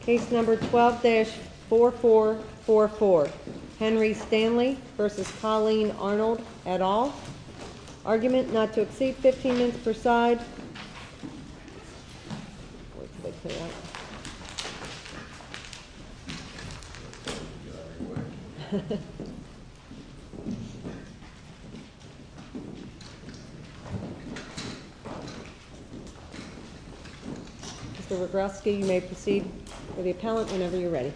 Case number 12-4444 Henry Stanley v. Colleen Arnold et al. Argument not to exceed 15 minutes per side. Mr. Rogalski, you may proceed with the appellant whenever you're ready. Counselor Rick. Good morning,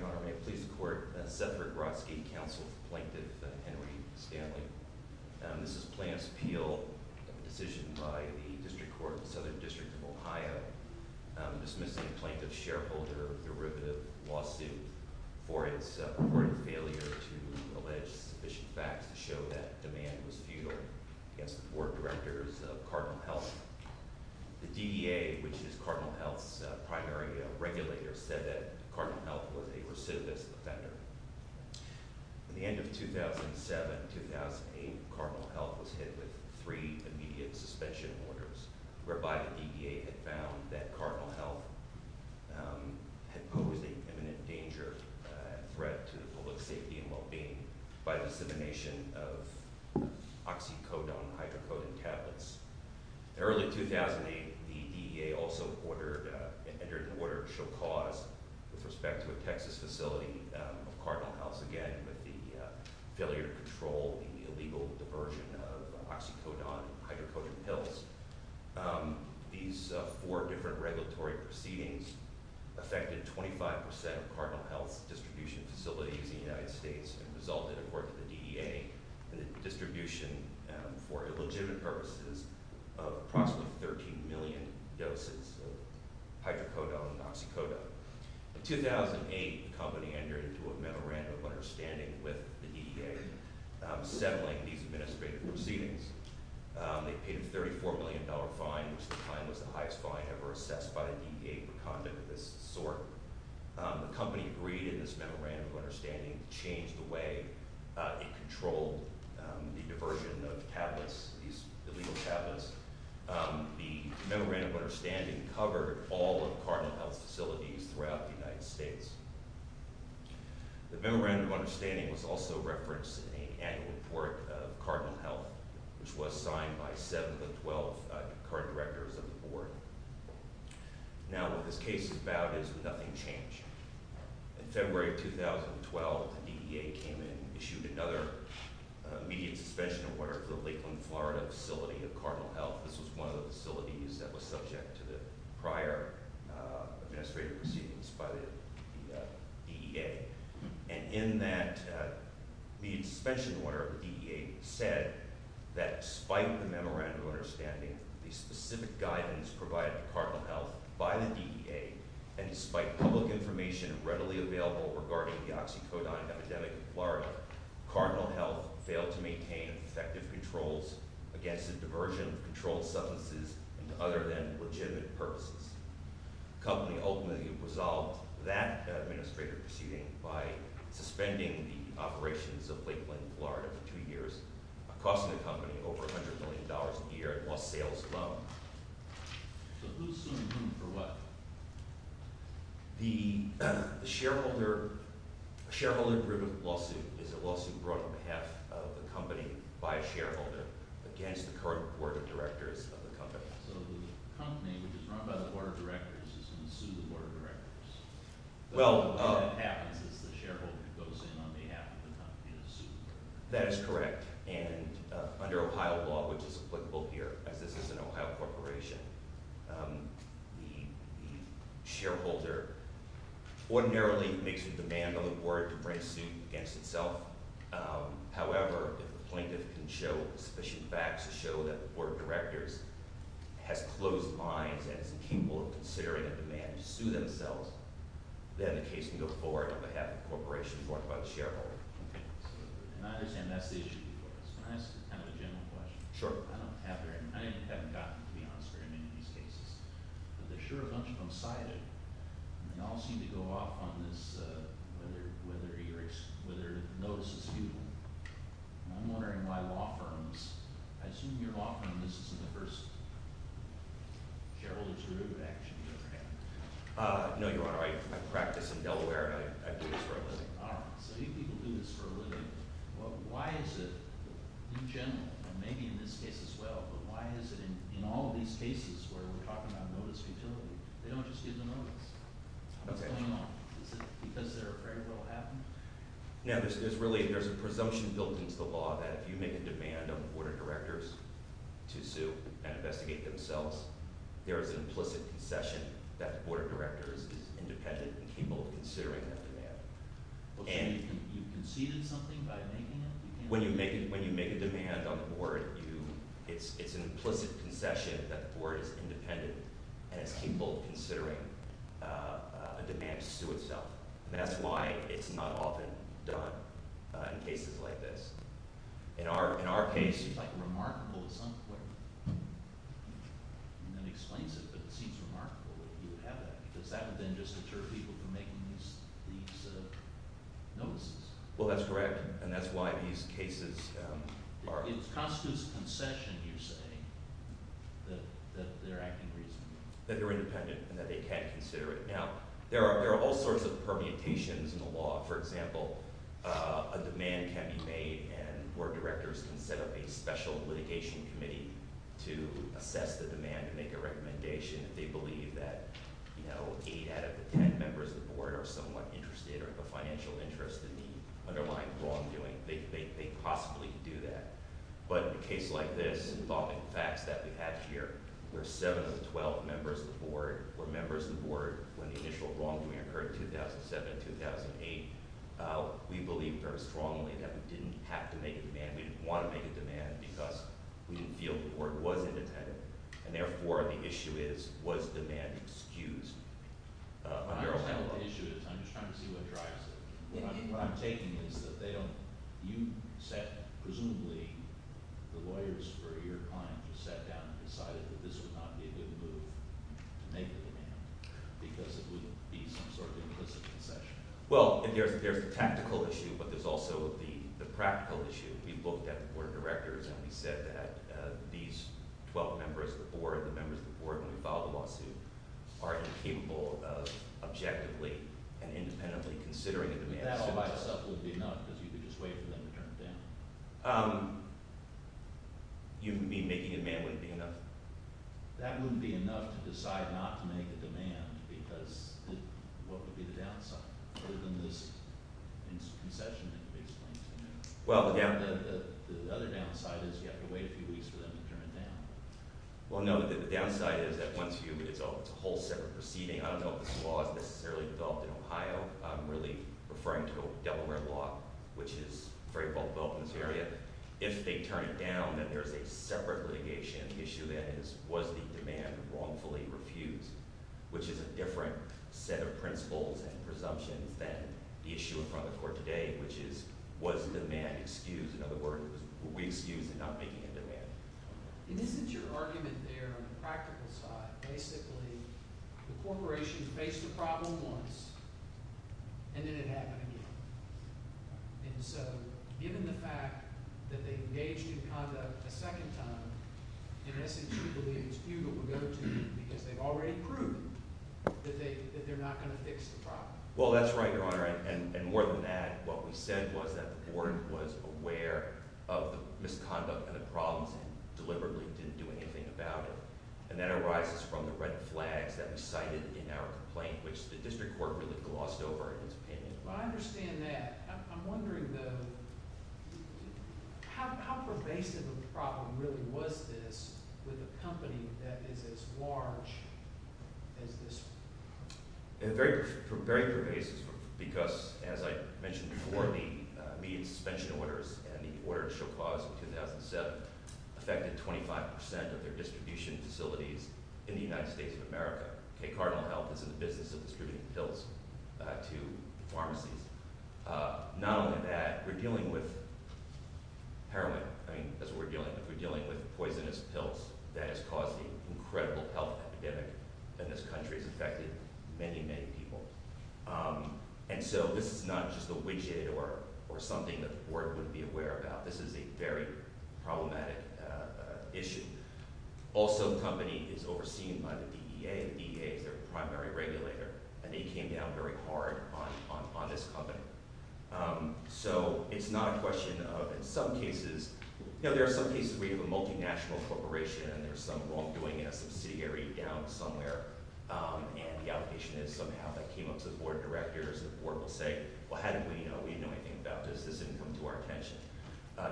Your Honor. May it please the Court, Seth Rogalski, counsel for Plaintiff Henry Stanley. This is Plaintiff's appeal of a decision by the District Court of the Southern District of Ohio dismissing the plaintiff's shareholder derivative lawsuit for its reported failure to allege sufficient facts to show that demand was futile against the Board of Directors of Cardinal Health. The DEA, which is Cardinal Health's primary regulator, said that Cardinal Health was a recidivist offender. At the end of 2007-2008, Cardinal Health was hit with three immediate suspension orders whereby the DEA had found that Cardinal Health had posed an imminent danger and threat to the public's safety and well-being by dissemination of oxycodone-hydrocodone tablets. In early 2008, the DEA also entered into order to show cause with respect to a Texas facility of Cardinal Health's, again, with the failure to control the illegal diversion of oxycodone-hydrocodone pills. These four different regulatory proceedings affected 25% of Cardinal Health's distribution facilities in the United States and resulted, according to the DEA, in the distribution, for illegitimate purposes, of approximately 13 million doses of hydrocodone and oxycodone. In 2008, the company entered into a memorandum of understanding with the DEA, settling these administrative proceedings. They paid a $34 million fine, which at the time was the highest fine ever assessed by the DEA for conduct of this sort. The company agreed in this memorandum of understanding to change the way it controlled the diversion of tablets, these illegal tablets. The memorandum of understanding covered all of Cardinal Health's facilities throughout the United States. The memorandum of understanding was also referenced in the annual report of Cardinal Health, which was signed by 7 of the 12 current directors of the board. Now, what this case is about is nothing changed. In February of 2012, the DEA came in and issued another immediate suspension order for the Lakeland, Florida facility of Cardinal Health. This was one of the facilities that was subject to the prior administrative proceedings by the DEA. And in that immediate suspension order, the DEA said that despite the memorandum of understanding, the specific guidance provided to Cardinal Health by the DEA, and despite public information readily available regarding the oxycodone epidemic in Florida, Cardinal Health failed to maintain effective controls against the diversion of controlled substances and other than legitimate purposes. The company ultimately resolved that administrative proceeding by suspending the operations of Lakeland, Florida for two years, costing the company over $100 million a year, and lost sales alone. So who's suing whom for what? The shareholder-driven lawsuit is a lawsuit brought on behalf of the company by a shareholder against the current board of directors of the company. So the company, which is run by the board of directors, is going to sue the board of directors? What happens is the shareholder goes in on behalf of the company to sue the board. That is correct. And under Ohio law, which is applicable here, as this is an Ohio corporation, the shareholder ordinarily makes a demand on the board to bring a suit against itself. However, if the plaintiff can show sufficient facts to show that the board of directors has closed minds and is incapable of considering a demand to sue themselves, then the case can go forward on behalf of the corporation brought by the shareholder. And I understand that's the issue. Can I ask kind of a general question? Sure. I haven't gotten to be honest very many of these cases, but there are sure a bunch of them cited, and they all seem to go off on this, whether the notice is futile. I'm wondering why law firms – I assume you're a law firm. This isn't the first shareholder's review of action you've ever had. No, Your Honor. I practice in Delaware, and I do this for a living. So you people do this for a living. Why is it, in general, and maybe in this case as well, but why is it in all of these cases where we're talking about notice futility, they don't just give the notice? What's going on? Is it because they're afraid it will happen? No, there's really a presumption built into the law that if you make a demand on the Board of Directors to sue and investigate themselves, there is an implicit concession that the Board of Directors is independent and capable of considering that demand. So you conceded something by making it? When you make a demand on the Board, it's an implicit concession that the Board is independent and is capable of considering a demand to sue itself. And that's why it's not often done in cases like this. In our case... It's like remarkable at some point. And that explains it, but it seems remarkable that you would have that because that would then just deter people from making these notices. Well, that's correct, and that's why these cases are... It constitutes concession, you're saying, that they're acting reasonably. That they're independent and that they can consider it. Now, there are all sorts of permutations in the law. For example, a demand can be made where directors can set up a special litigation committee to assess the demand and make a recommendation. If they believe that 8 out of the 10 members of the board are somewhat interested or have a financial interest in the underlying wrongdoing, they possibly could do that. But in a case like this, involving facts that we have here, where 7 of the 12 members of the board were members of the board when the initial wrongdoing occurred in 2007-2008, we believe very strongly that we didn't have to make a demand. We didn't want to make a demand because we didn't feel the board was independent. And therefore, the issue is, was demand excused under a law? I'm just trying to see what drives it. What I'm taking is that they don't... Presumably, the lawyers for your client just sat down and decided that this would not be a good move to make a demand because it would be some sort of implicit concession. Well, there's the tactical issue, but there's also the practical issue. We looked at the board of directors and we said that these 12 members of the board, the members of the board when we filed the lawsuit, are incapable of objectively and independently considering a demand. That all by itself would be enough because you could just wait for them to turn it down? You mean making a demand wouldn't be enough? That wouldn't be enough to decide not to make a demand because what would be the downside? Other than this concession and basically... The other downside is you have to wait a few weeks for them to turn it down. Well, no, the downside is that once you... it's a whole separate proceeding. I don't know if this law is necessarily developed in Ohio. I'm really referring to Delaware law, which is very well built in this area. If they turn it down, then there's a separate litigation. The issue then is was the demand wrongfully refused, which is a different set of principles and presumptions than the issue in front of the court today, which is was demand excused? In other words, were we excused in not making a demand? And isn't your argument there on the practical side, basically the corporation faced the problem once and then it happened again. And so given the fact that they engaged in conduct a second time, in essence, you believe it's futile to go to them because they've already proved that they're not going to fix the problem. Well, that's right, Your Honor, and more than that, what we said was that the board was aware of the misconduct and the problems and deliberately didn't do anything about it. And that arises from the red flags that we cited in our complaint, which the district court really glossed over in its opinion. Well, I understand that. I'm wondering, though, how pervasive a problem really was this with a company that is as large as this? Very pervasive because, as I mentioned before, the immediate suspension orders and the order to show cause in 2007 affected 25% of their distribution facilities in the United States of America. K Cardinal Health is in the business of distributing pills to pharmacies. Not only that, we're dealing with heroin. I mean, that's what we're dealing with. We're dealing with poisonous pills that has caused an incredible health epidemic and this country has affected many, many people. And so this is not just a widget or something that the board wouldn't be aware about. This is a very problematic issue. Also, the company is overseen by the DEA, and the DEA is their primary regulator, and they came down very hard on this company. So it's not a question of in some cases. You know, there are some cases where you have a multinational corporation and there's some wrongdoing in a subsidiary down somewhere, and the allegation is somehow that came up to the board of directors. The board will say, well, how did we know? We didn't know anything about this. This didn't come to our attention.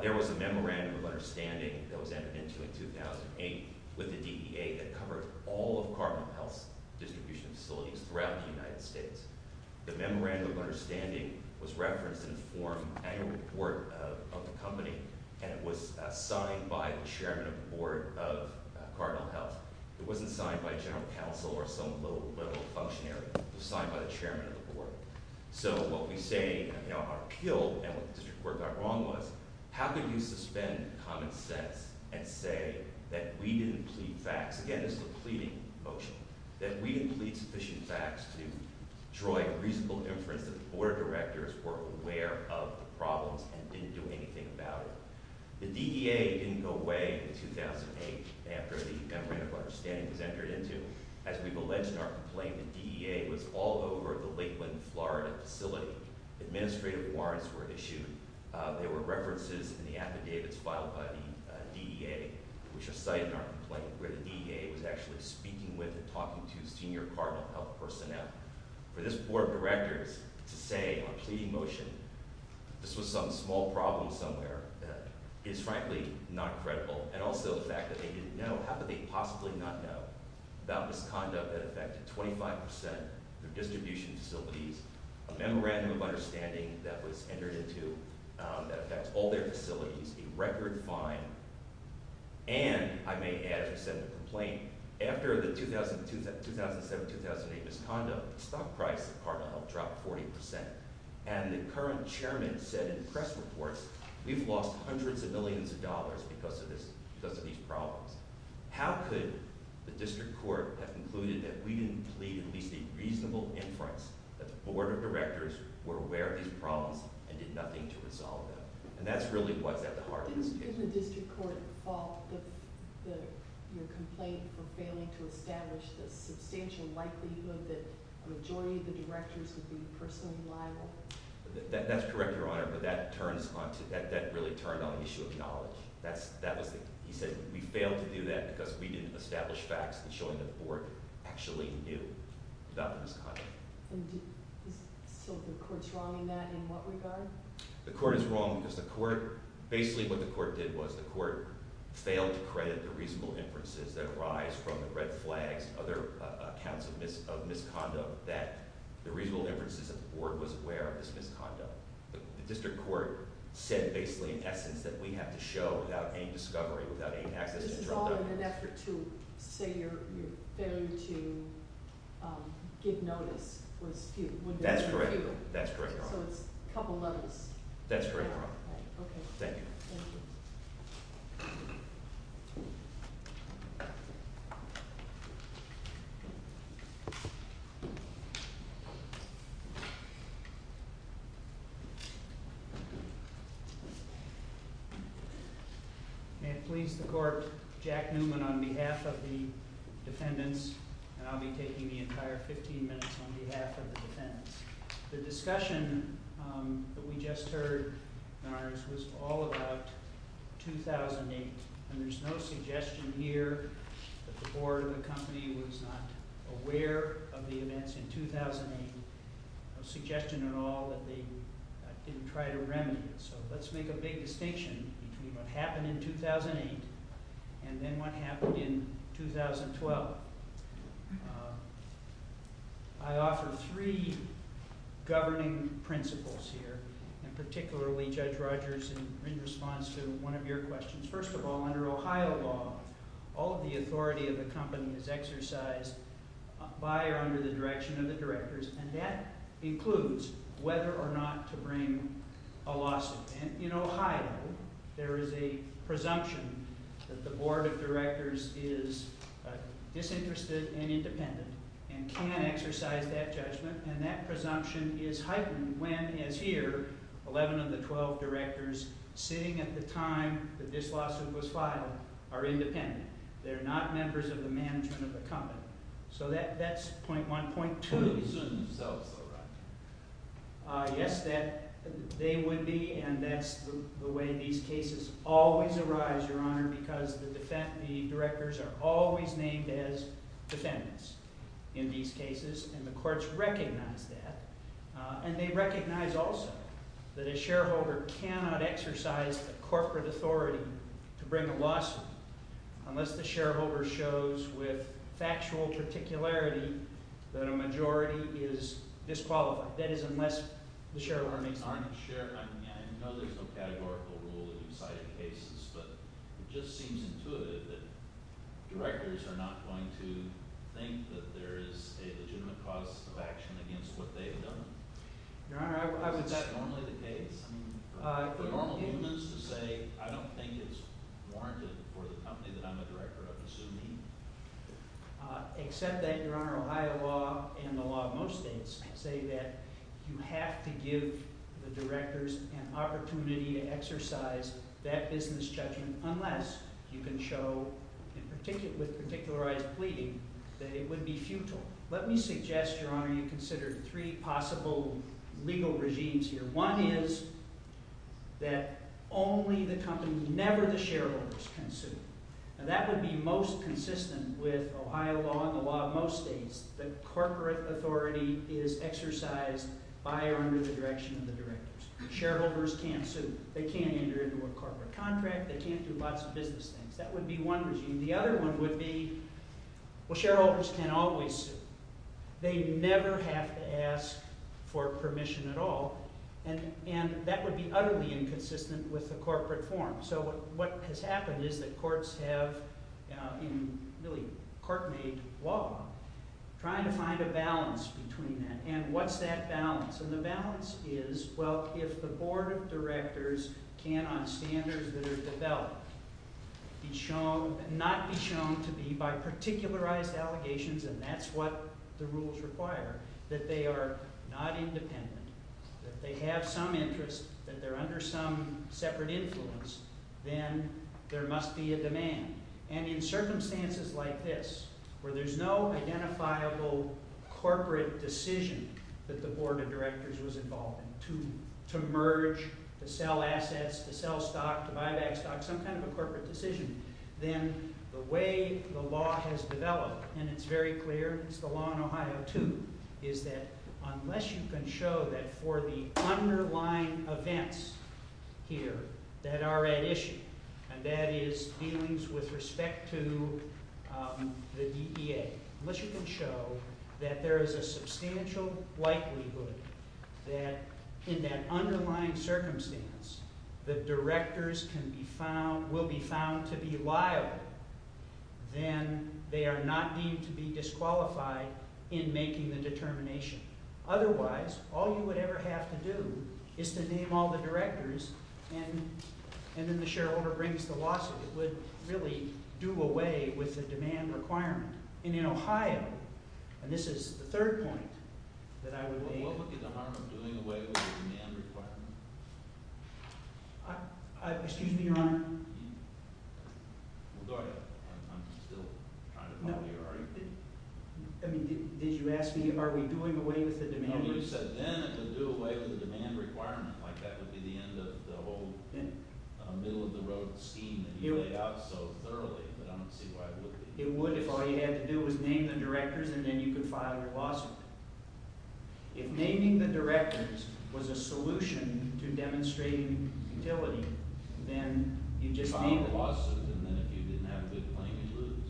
There was a memorandum of understanding that was entered into in 2008 with the DEA that covered all of Cardinal Health's distribution facilities throughout the United States. The memorandum of understanding was referenced in the forum annual report of the company, and it was signed by the chairman of the board of Cardinal Health. It wasn't signed by a general counsel or some low-level functionary. It was signed by the chairman of the board. So what we say are killed, and what the district court got wrong was, how could you suspend common sense and say that we didn't plead facts? Again, this is a pleading motion, that we didn't plead sufficient facts to draw a reasonable inference that the board of directors were aware of the problems and didn't do anything about it. The DEA didn't go away in 2008 after the memorandum of understanding was entered into. As we've alleged in our complaint, the DEA was all over the Lakeland, Florida facility. Administrative warrants were issued. There were references in the affidavits filed by the DEA, which are cited in our complaint, where the DEA was actually speaking with and talking to senior Cardinal Health personnel. For this board of directors to say on a pleading motion, this was some small problem somewhere, is frankly not credible. And also the fact that they didn't know, how could they possibly not know about misconduct that affected 25 percent of their distribution facilities, a memorandum of understanding that was entered into that affects all their facilities, a record fine, and I may add, as I said in the complaint, after the 2007-2008 misconduct, the stock price of Cardinal Health dropped 40 percent. And the current chairman said in press reports, we've lost hundreds of millions of dollars because of these problems. How could the district court have concluded that we didn't plead at least a reasonable inference that the board of directors were aware of these problems and did nothing to resolve them? And that's really what's at the heart of this case. Isn't the district court at fault with your complaint for failing to establish the substantial likelihood that a majority of the directors would be personally liable? That's correct, Your Honor, but that really turned on the issue of knowledge. He said we failed to do that because we didn't establish facts in showing that the board actually knew about the misconduct. So the court's wrong in that in what regard? The court is wrong because the court – basically what the court did was the court failed to credit the reasonable inferences that arise from the red flags, other accounts of misconduct, that the reasonable inferences that the board was aware of this misconduct. The district court said basically in essence that we have to show without any discovery, without any access to information. This is all in an effort to say your failure to give notice was due. That's correct. So it's a couple of levels. That's correct, Your Honor. Okay. Thank you. Thank you. May it please the court, Jack Newman on behalf of the defendants, and I'll be taking the entire 15 minutes on behalf of the defendants. The discussion that we just heard, Your Honors, was all about 2008, and there's no suggestion here that the board or the company was not aware of the events in 2008, and there's no suggestion at all that they didn't try to remedy it. So let's make a big distinction between what happened in 2008 and then what happened in 2012. I offer three governing principles here, and particularly Judge Rogers, in response to one of your questions. First of all, under Ohio law, all of the authority of the company is exercised by or under the direction of the directors, and that includes whether or not to bring a lawsuit. In Ohio, there is a presumption that the board of directors is disinterested and independent and can't exercise that judgment, and that presumption is heightened when, as here, 11 of the 12 directors sitting at the time that this lawsuit was filed are independent. They're not members of the management of the company. So that's point one. Point two is that they would be, and that's the way these cases always arise, Your Honor, because the directors are always named as defendants in these cases, and the courts recognize that, and they recognize also that a shareholder unless the shareholder shows with factual particularity that a majority is disqualified, that is, unless the shareholder makes an argument. I know there's no categorical rule in these cited cases, but it just seems intuitive that directors are not going to think that there is a legitimate cause of action against what they've done. The normal rule is to say I don't think it's warranted for the company that I'm a director of assuming. Except that, Your Honor, Ohio law and the law of most states say that you have to give the directors an opportunity to exercise that business judgment unless you can show, with particularized pleading, that it would be futile. Let me suggest, Your Honor, you consider three possible legal regimes here. One is that only the company, never the shareholders, can sue. Now, that would be most consistent with Ohio law and the law of most states. The corporate authority is exercised by or under the direction of the directors. Shareholders can't sue. They can't enter into a corporate contract. They can't do lots of business things. That would be one regime. The other one would be, well, shareholders can always sue. They never have to ask for permission at all. And that would be utterly inconsistent with the corporate form. So what has happened is that courts have, in really court-made law, trying to find a balance between that. And what's that balance? And the balance is, well, if the board of directors can, on standards that are developed, not be shown to be by particularized allegations, and that's what the rules require, that they are not independent, that they have some interest, that they're under some separate influence, then there must be a demand. And in circumstances like this, where there's no identifiable corporate decision that the board of directors was involved in to merge, to sell assets, to sell stock, to buy back stock, some kind of a corporate decision, then the way the law has developed, and it's very clear, it's the law in Ohio too, is that unless you can show that for the underlying events here that are at issue, and that is dealings with respect to the DEA, unless you can show that there is a substantial likelihood that in that underlying circumstance the directors will be found to be liable, then they are not deemed to be disqualified in making the determination. Otherwise, all you would ever have to do is to name all the directors, and then the shareholder brings the lawsuit. It would really do away with the demand requirement. And in Ohio, and this is the third point that I would make. What would be the harm of doing away with the demand requirement? Excuse me, Your Honor? Go ahead. I'm still trying to follow your REP. I mean, did you ask me are we doing away with the demand requirement? No, you said then it would do away with the demand requirement, like that would be the end of the whole middle-of-the-road scheme that you laid out so thoroughly, but I don't see why it would be. It would if all you had to do was name the directors, and then you could file your lawsuit. If naming the directors was a solution to demonstrating utility, then you'd just name it. File a lawsuit, and then if you didn't have a good claim, you'd lose.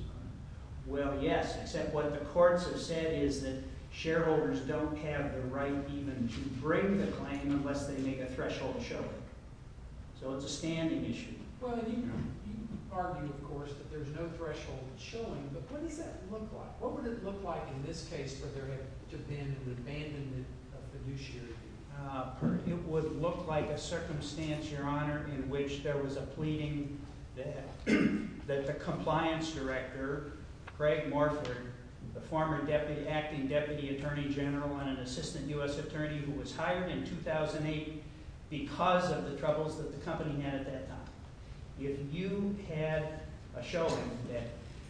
Well, yes, except what the courts have said is that shareholders don't have the right even to break the claim unless they make a threshold showing. So it's a standing issue. Well, you argue, of course, that there's no threshold showing, but what does that look like? What would it look like in this case where there had just been an abandonment of fiduciary? It would look like a circumstance, Your Honor, in which there was a pleading that the compliance director, Craig Morford, the former acting deputy attorney general and an assistant U.S. attorney who was hired in 2008 because of the troubles that the company had at that time. If you had a showing that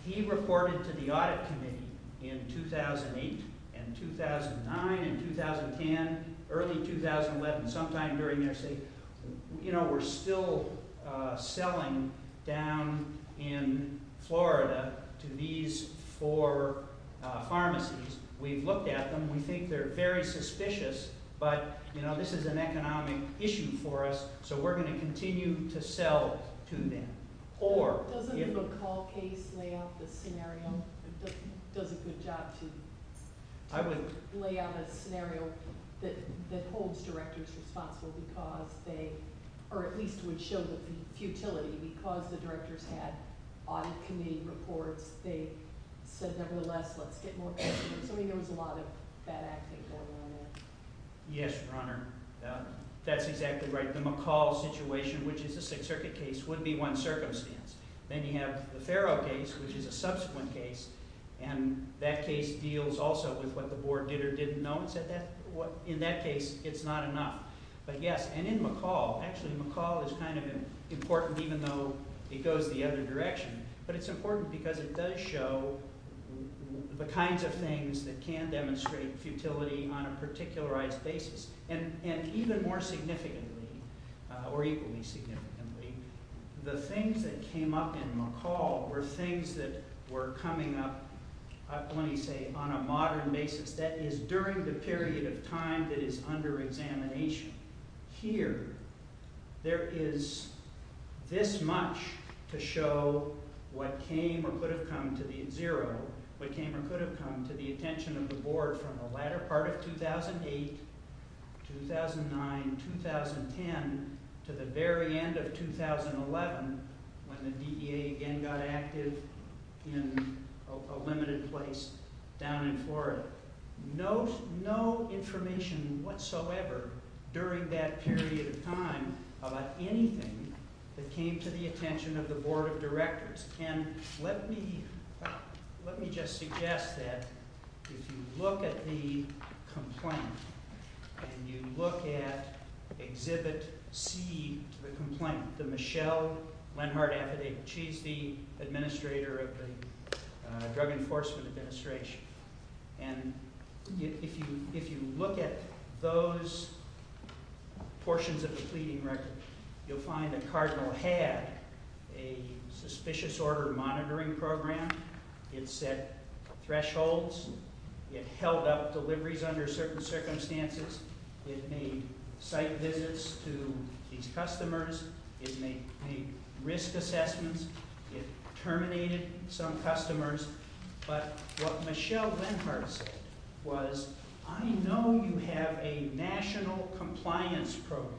he reported to the audit committee in 2008 and 2009 and 2010, early 2011, sometime during their stay, you know, we're still selling down in Florida to these four pharmacies. We've looked at them. We think they're very suspicious, but, you know, this is an economic issue for us, so we're going to continue to sell to them. Doesn't the McCall case lay out the scenario? It does a good job to lay out a scenario that holds directors responsible because they, or at least would show the futility because the directors had audit committee reports. They said, nevertheless, let's get more customers. So I think there was a lot of bad acting going on there. Yes, Your Honor. That's exactly right. The McCall situation, which is a Sixth Circuit case, would be one circumstance. Then you have the Farrow case, which is a subsequent case, and that case deals also with what the board did or didn't know and said in that case it's not enough. But, yes, and in McCall, actually, McCall is kind of important even though it goes the other direction, but it's important because it does show the kinds of things that can demonstrate futility on a particularized basis. And even more significantly, or equally significantly, the things that came up in McCall were things that were coming up, let me say, on a modern basis that is during the period of time that is under examination. Here, there is this much to show what came or could have come to the zero, what came or could have come to the attention of the board from the latter part of 2008, 2009, 2010, to the very end of 2011 when the DEA again got active in a limited place down in Florida. No information whatsoever during that period of time about anything that came to the attention of the board of directors. And let me just suggest that if you look at the complaint and you look at Exhibit C to the complaint, the Michelle Lenhardt affidavit, she's the administrator of the Drug Enforcement Administration, and if you look at those portions of the pleading record, you'll find that Cardinal had a suspicious order monitoring program. It set thresholds. It held up deliveries under certain circumstances. It made site visits to these customers. It made risk assessments. It terminated some customers. But what Michelle Lenhardt said was, I know you have a national compliance program.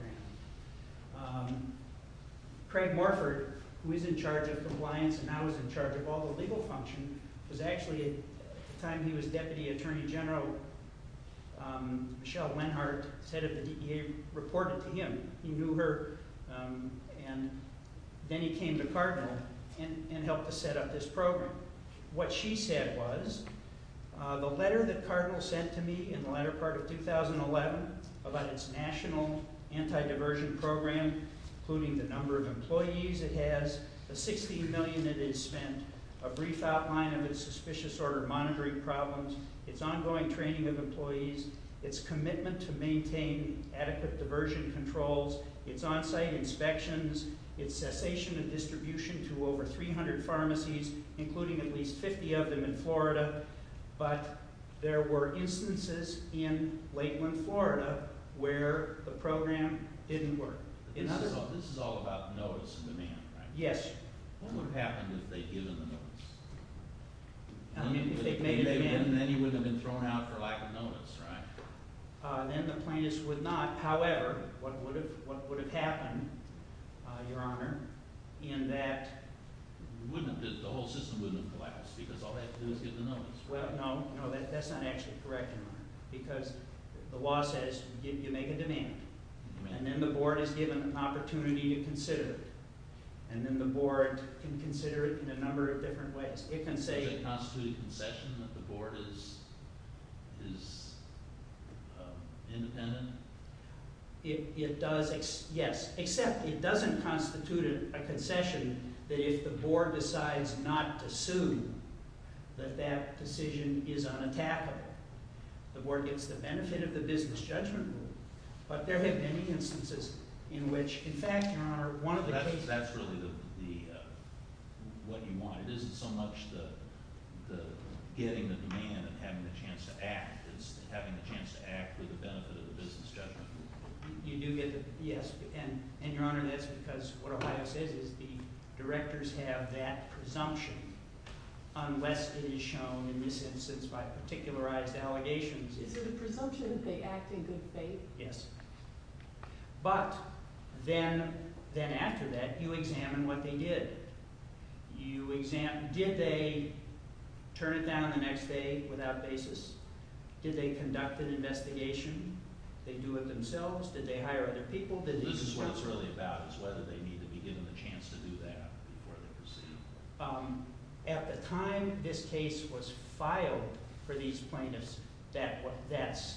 Craig Morford, who is in charge of compliance and now is in charge of all the legal function, was actually, at the time he was deputy attorney general, Michelle Lenhardt, the head of the DEA, reported to him. He knew her, and then he came to Cardinal and helped to set up this program. What she said was, the letter that Cardinal sent to me in the latter part of 2011 about its national anti-diversion program, including the number of employees it has, the $60 million it has spent, a brief outline of its suspicious order monitoring problems, its ongoing training of employees, its commitment to maintain adequate diversion controls, its on-site inspections, its cessation of distribution to over 300 pharmacies, including at least 50 of them in Florida. But there were instances in Lakeland, Florida, where the program didn't work. This is all about notice and demand, right? Yes. What would have happened if they'd given the notice? Then you wouldn't have been thrown out for lack of notice, right? Then the plaintiffs would not. However, what would have happened, Your Honor, in that... The whole system wouldn't have collapsed, because all they had to do was give the notice. No, that's not actually correct, Your Honor, because the law says you make a demand, and then the board is given an opportunity to consider it, and then the board can consider it in a number of different ways. Does it constitute a concession that the board is independent? It does, yes, except it doesn't constitute a concession that if the board decides not to sue, that that decision is unattackable. The board gets the benefit of the business judgment rule, but there have been instances in which, in fact, Your Honor... That's really what you want. It isn't so much getting the demand and having the chance to act, it's having the chance to act with the benefit of the business judgment rule. You do get the... Yes. And, Your Honor, that's because what Ohio says is the directors have that presumption unless it is shown in this instance by particularized allegations. Is it a presumption that they act in good faith? Yes. But then after that, you examine what they did. Did they turn it down the next day without basis? Did they conduct an investigation? Did they do it themselves? Did they hire other people? This is what it's really about, is whether they need to be given the chance to do that before they proceed. At the time this case was filed for these plaintiffs, that's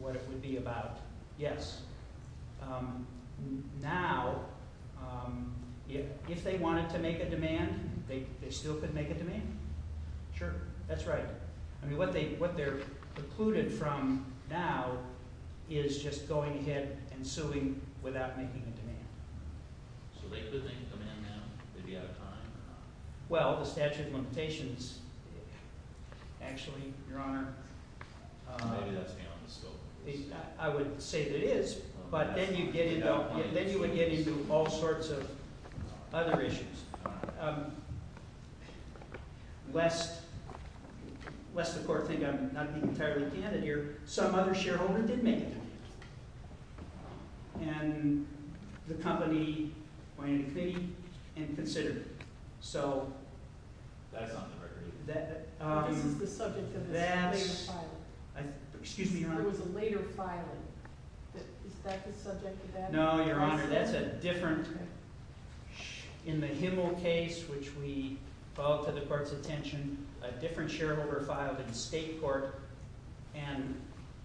what it would be about, yes. Now, if they wanted to make a demand, they still could make a demand? Sure. That's right. I mean, what they're precluded from now is just going ahead and suing without making a demand. So they could make a demand now? They'd be out of time or not? Well, the statute of limitations... Actually, Your Honor... Maybe that's beyond the scope. I would say that it is, but then you get into all sorts of other issues. Lest the court think I'm not being entirely candid here, some other shareholder did make a demand. And the company went into committee and considered it. So... That's on the record. This is the subject of a later filing. Excuse me, Your Honor? There was a later filing. Is that the subject of that? No, Your Honor, that's a different... In the Himmel case, which we brought to the court's attention, a different shareholder filed in state court and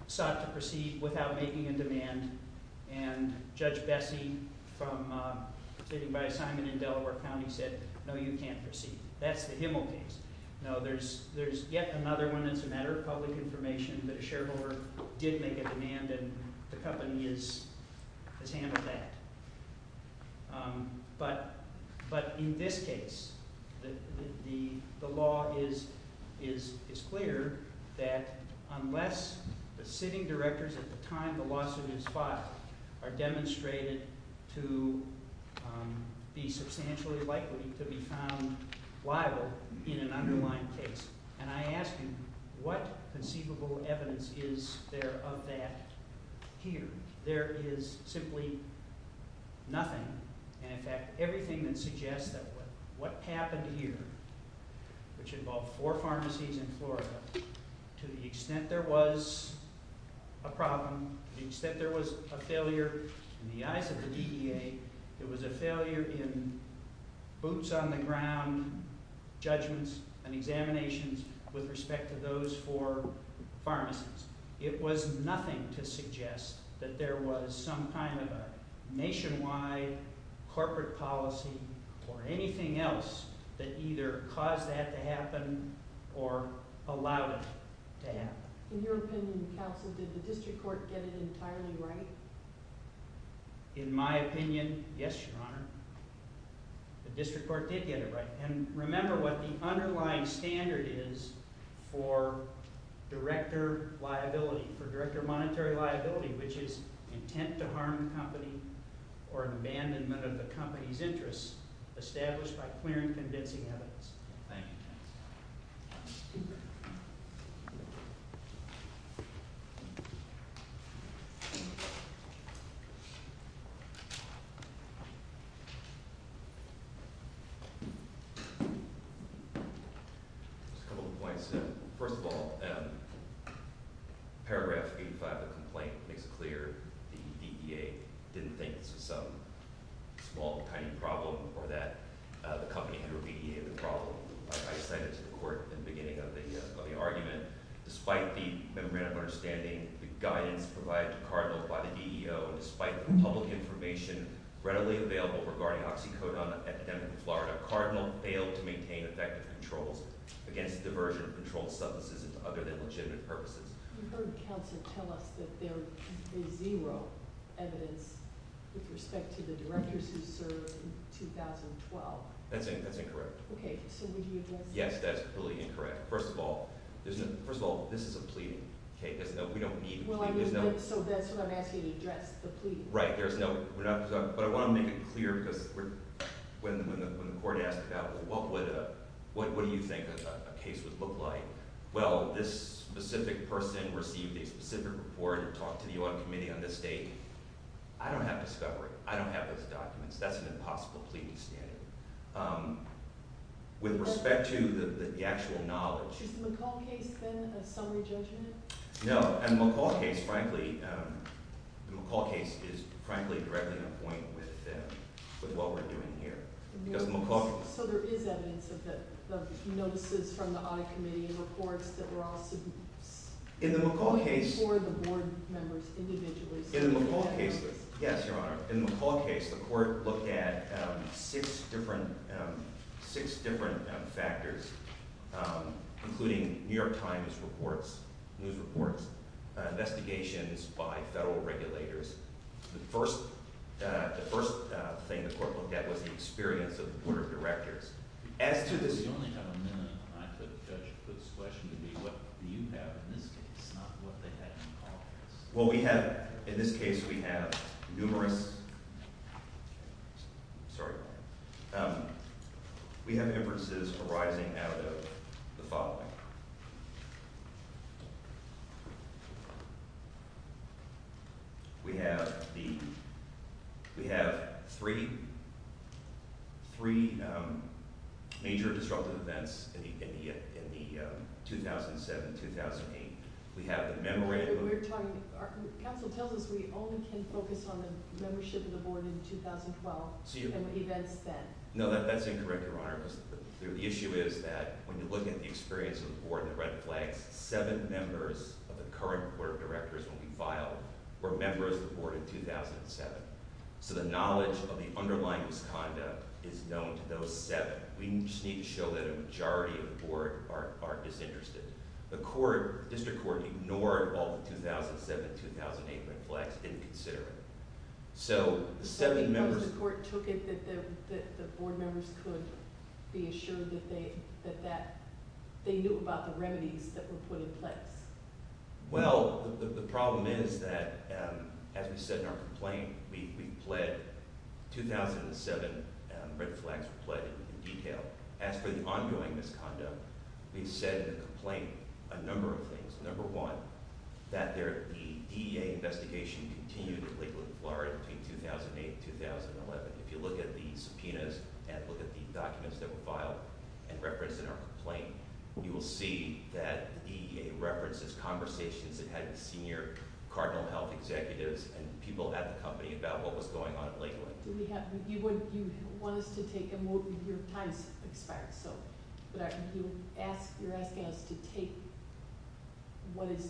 sought to proceed without making a demand. And Judge Bessie, sitting by assignment in Delaware County, said, no, you can't proceed. That's the Himmel case. No, there's yet another one that's a matter of public information that a shareholder did make a demand, and the company has handled that. But in this case, the law is clear that unless the sitting directors at the time the lawsuit is filed are demonstrated to be substantially likely to be found liable in an underlying case... And I ask you, what conceivable evidence is there of that here? There is simply nothing. And in fact, everything that suggests that what happened here, which involved four pharmacies in Florida, to the extent there was a problem, to the extent there was a failure, in the eyes of the DEA, it was a failure in boots-on-the-ground judgments and examinations It was nothing to suggest that there was some kind of a nationwide corporate policy or anything else that either caused that to happen or allowed it to happen. In your opinion, counsel, did the district court get it entirely right? In my opinion, yes, Your Honor. The district court did get it right. And remember what the underlying standard is for director liability, for director monetary liability, which is intent to harm the company or abandonment of the company's interests established by clear and convincing evidence. Thank you. Just a couple of points. First of all, paragraph 85 of the complaint makes it clear the DEA didn't think this was some small, tiny problem or that the company had remediated the problem. I cited to the court in the beginning of the argument, despite the memorandum of understanding, the guidance provided to Cardinal by the DEO, despite the public information readily available regarding oxycodone epidemic in Florida, Cardinal failed to maintain effective controls against diversion of controlled substances for other than legitimate purposes. You heard counsel tell us that there is zero evidence with respect to the directors who served in 2012. That's incorrect. Okay, so would you address that? Yes, that's really incorrect. First of all, this is a pleading. We don't need a pleading. So that's what I'm asking, address the pleading. Right, but I want to make it clear because when the court asked about what do you think a case would look like, well, this specific person received a specific report or talked to the UN Committee on this date. I don't have discovery. I don't have those documents. That's an impossible pleading standard. With respect to the actual knowledge... Is the McCall case, then, a summary judgment? No, and the McCall case, frankly, the McCall case is frankly directly in a point with what we're doing here. So there is evidence of notices from the audit committee and reports that were also... In the McCall case... ...for the board members individually. In the McCall case, yes, Your Honor, in the McCall case, the court looked at six different factors, including New York Times reports, news reports, investigations by federal regulators. The first thing the court looked at was the experience of the board of directors. As to this... You only have a minute. I took the judge's question to be what do you have in this case, not what they had in the McCall case. Well, we have... In this case, we have numerous... Sorry. We have inferences arising out of the following. We have the... We have three... Three major disruptive events in the 2007-2008. We have the memorandum... We're talking... Council tells us we only can focus on the membership of the board in 2012 and the events then. No, that's incorrect, Your Honor, because the issue is that when you look at the experience of the board in the red flags, seven members of the current board of directors, when we filed, were members of the board in 2007. So the knowledge of the underlying misconduct is known to those seven. We just need to show that a majority of the board aren't disinterested. The district court ignored all the 2007-2008 red flags, didn't consider it. So the seven members... I think the court took it that the board members could be assured that they knew about the remedies that were put in place. Well, the problem is that, as we said in our complaint, we've pled... 2007 red flags were pled in detail. As for the ongoing misconduct, we've said in the complaint a number of things. Number one, that the DEA investigation continued to Lakeland, Florida, between 2008 and 2011. But if you look at the subpoenas and look at the documents that were filed and referenced in our complaint, you will see that the DEA references conversations it had with senior Cardinal Health executives and people at the company about what was going on in Lakeland. You want us to take... Your time's expired, so... You're asking us to take what is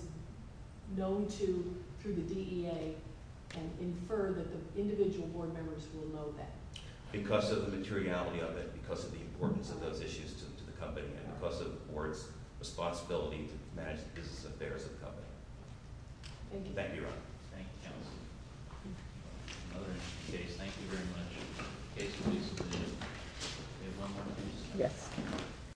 known to, through the DEA, and infer that the individual board members will know that. Because of the materiality of it, because of the importance of those issues to the company, and because of the board's responsibility to manage the business affairs of the company. Thank you. Thank you, Your Honor. Thank you, counsel. Another interesting case. Thank you very much. Case is resubmitted. Do we have one more case? Yes.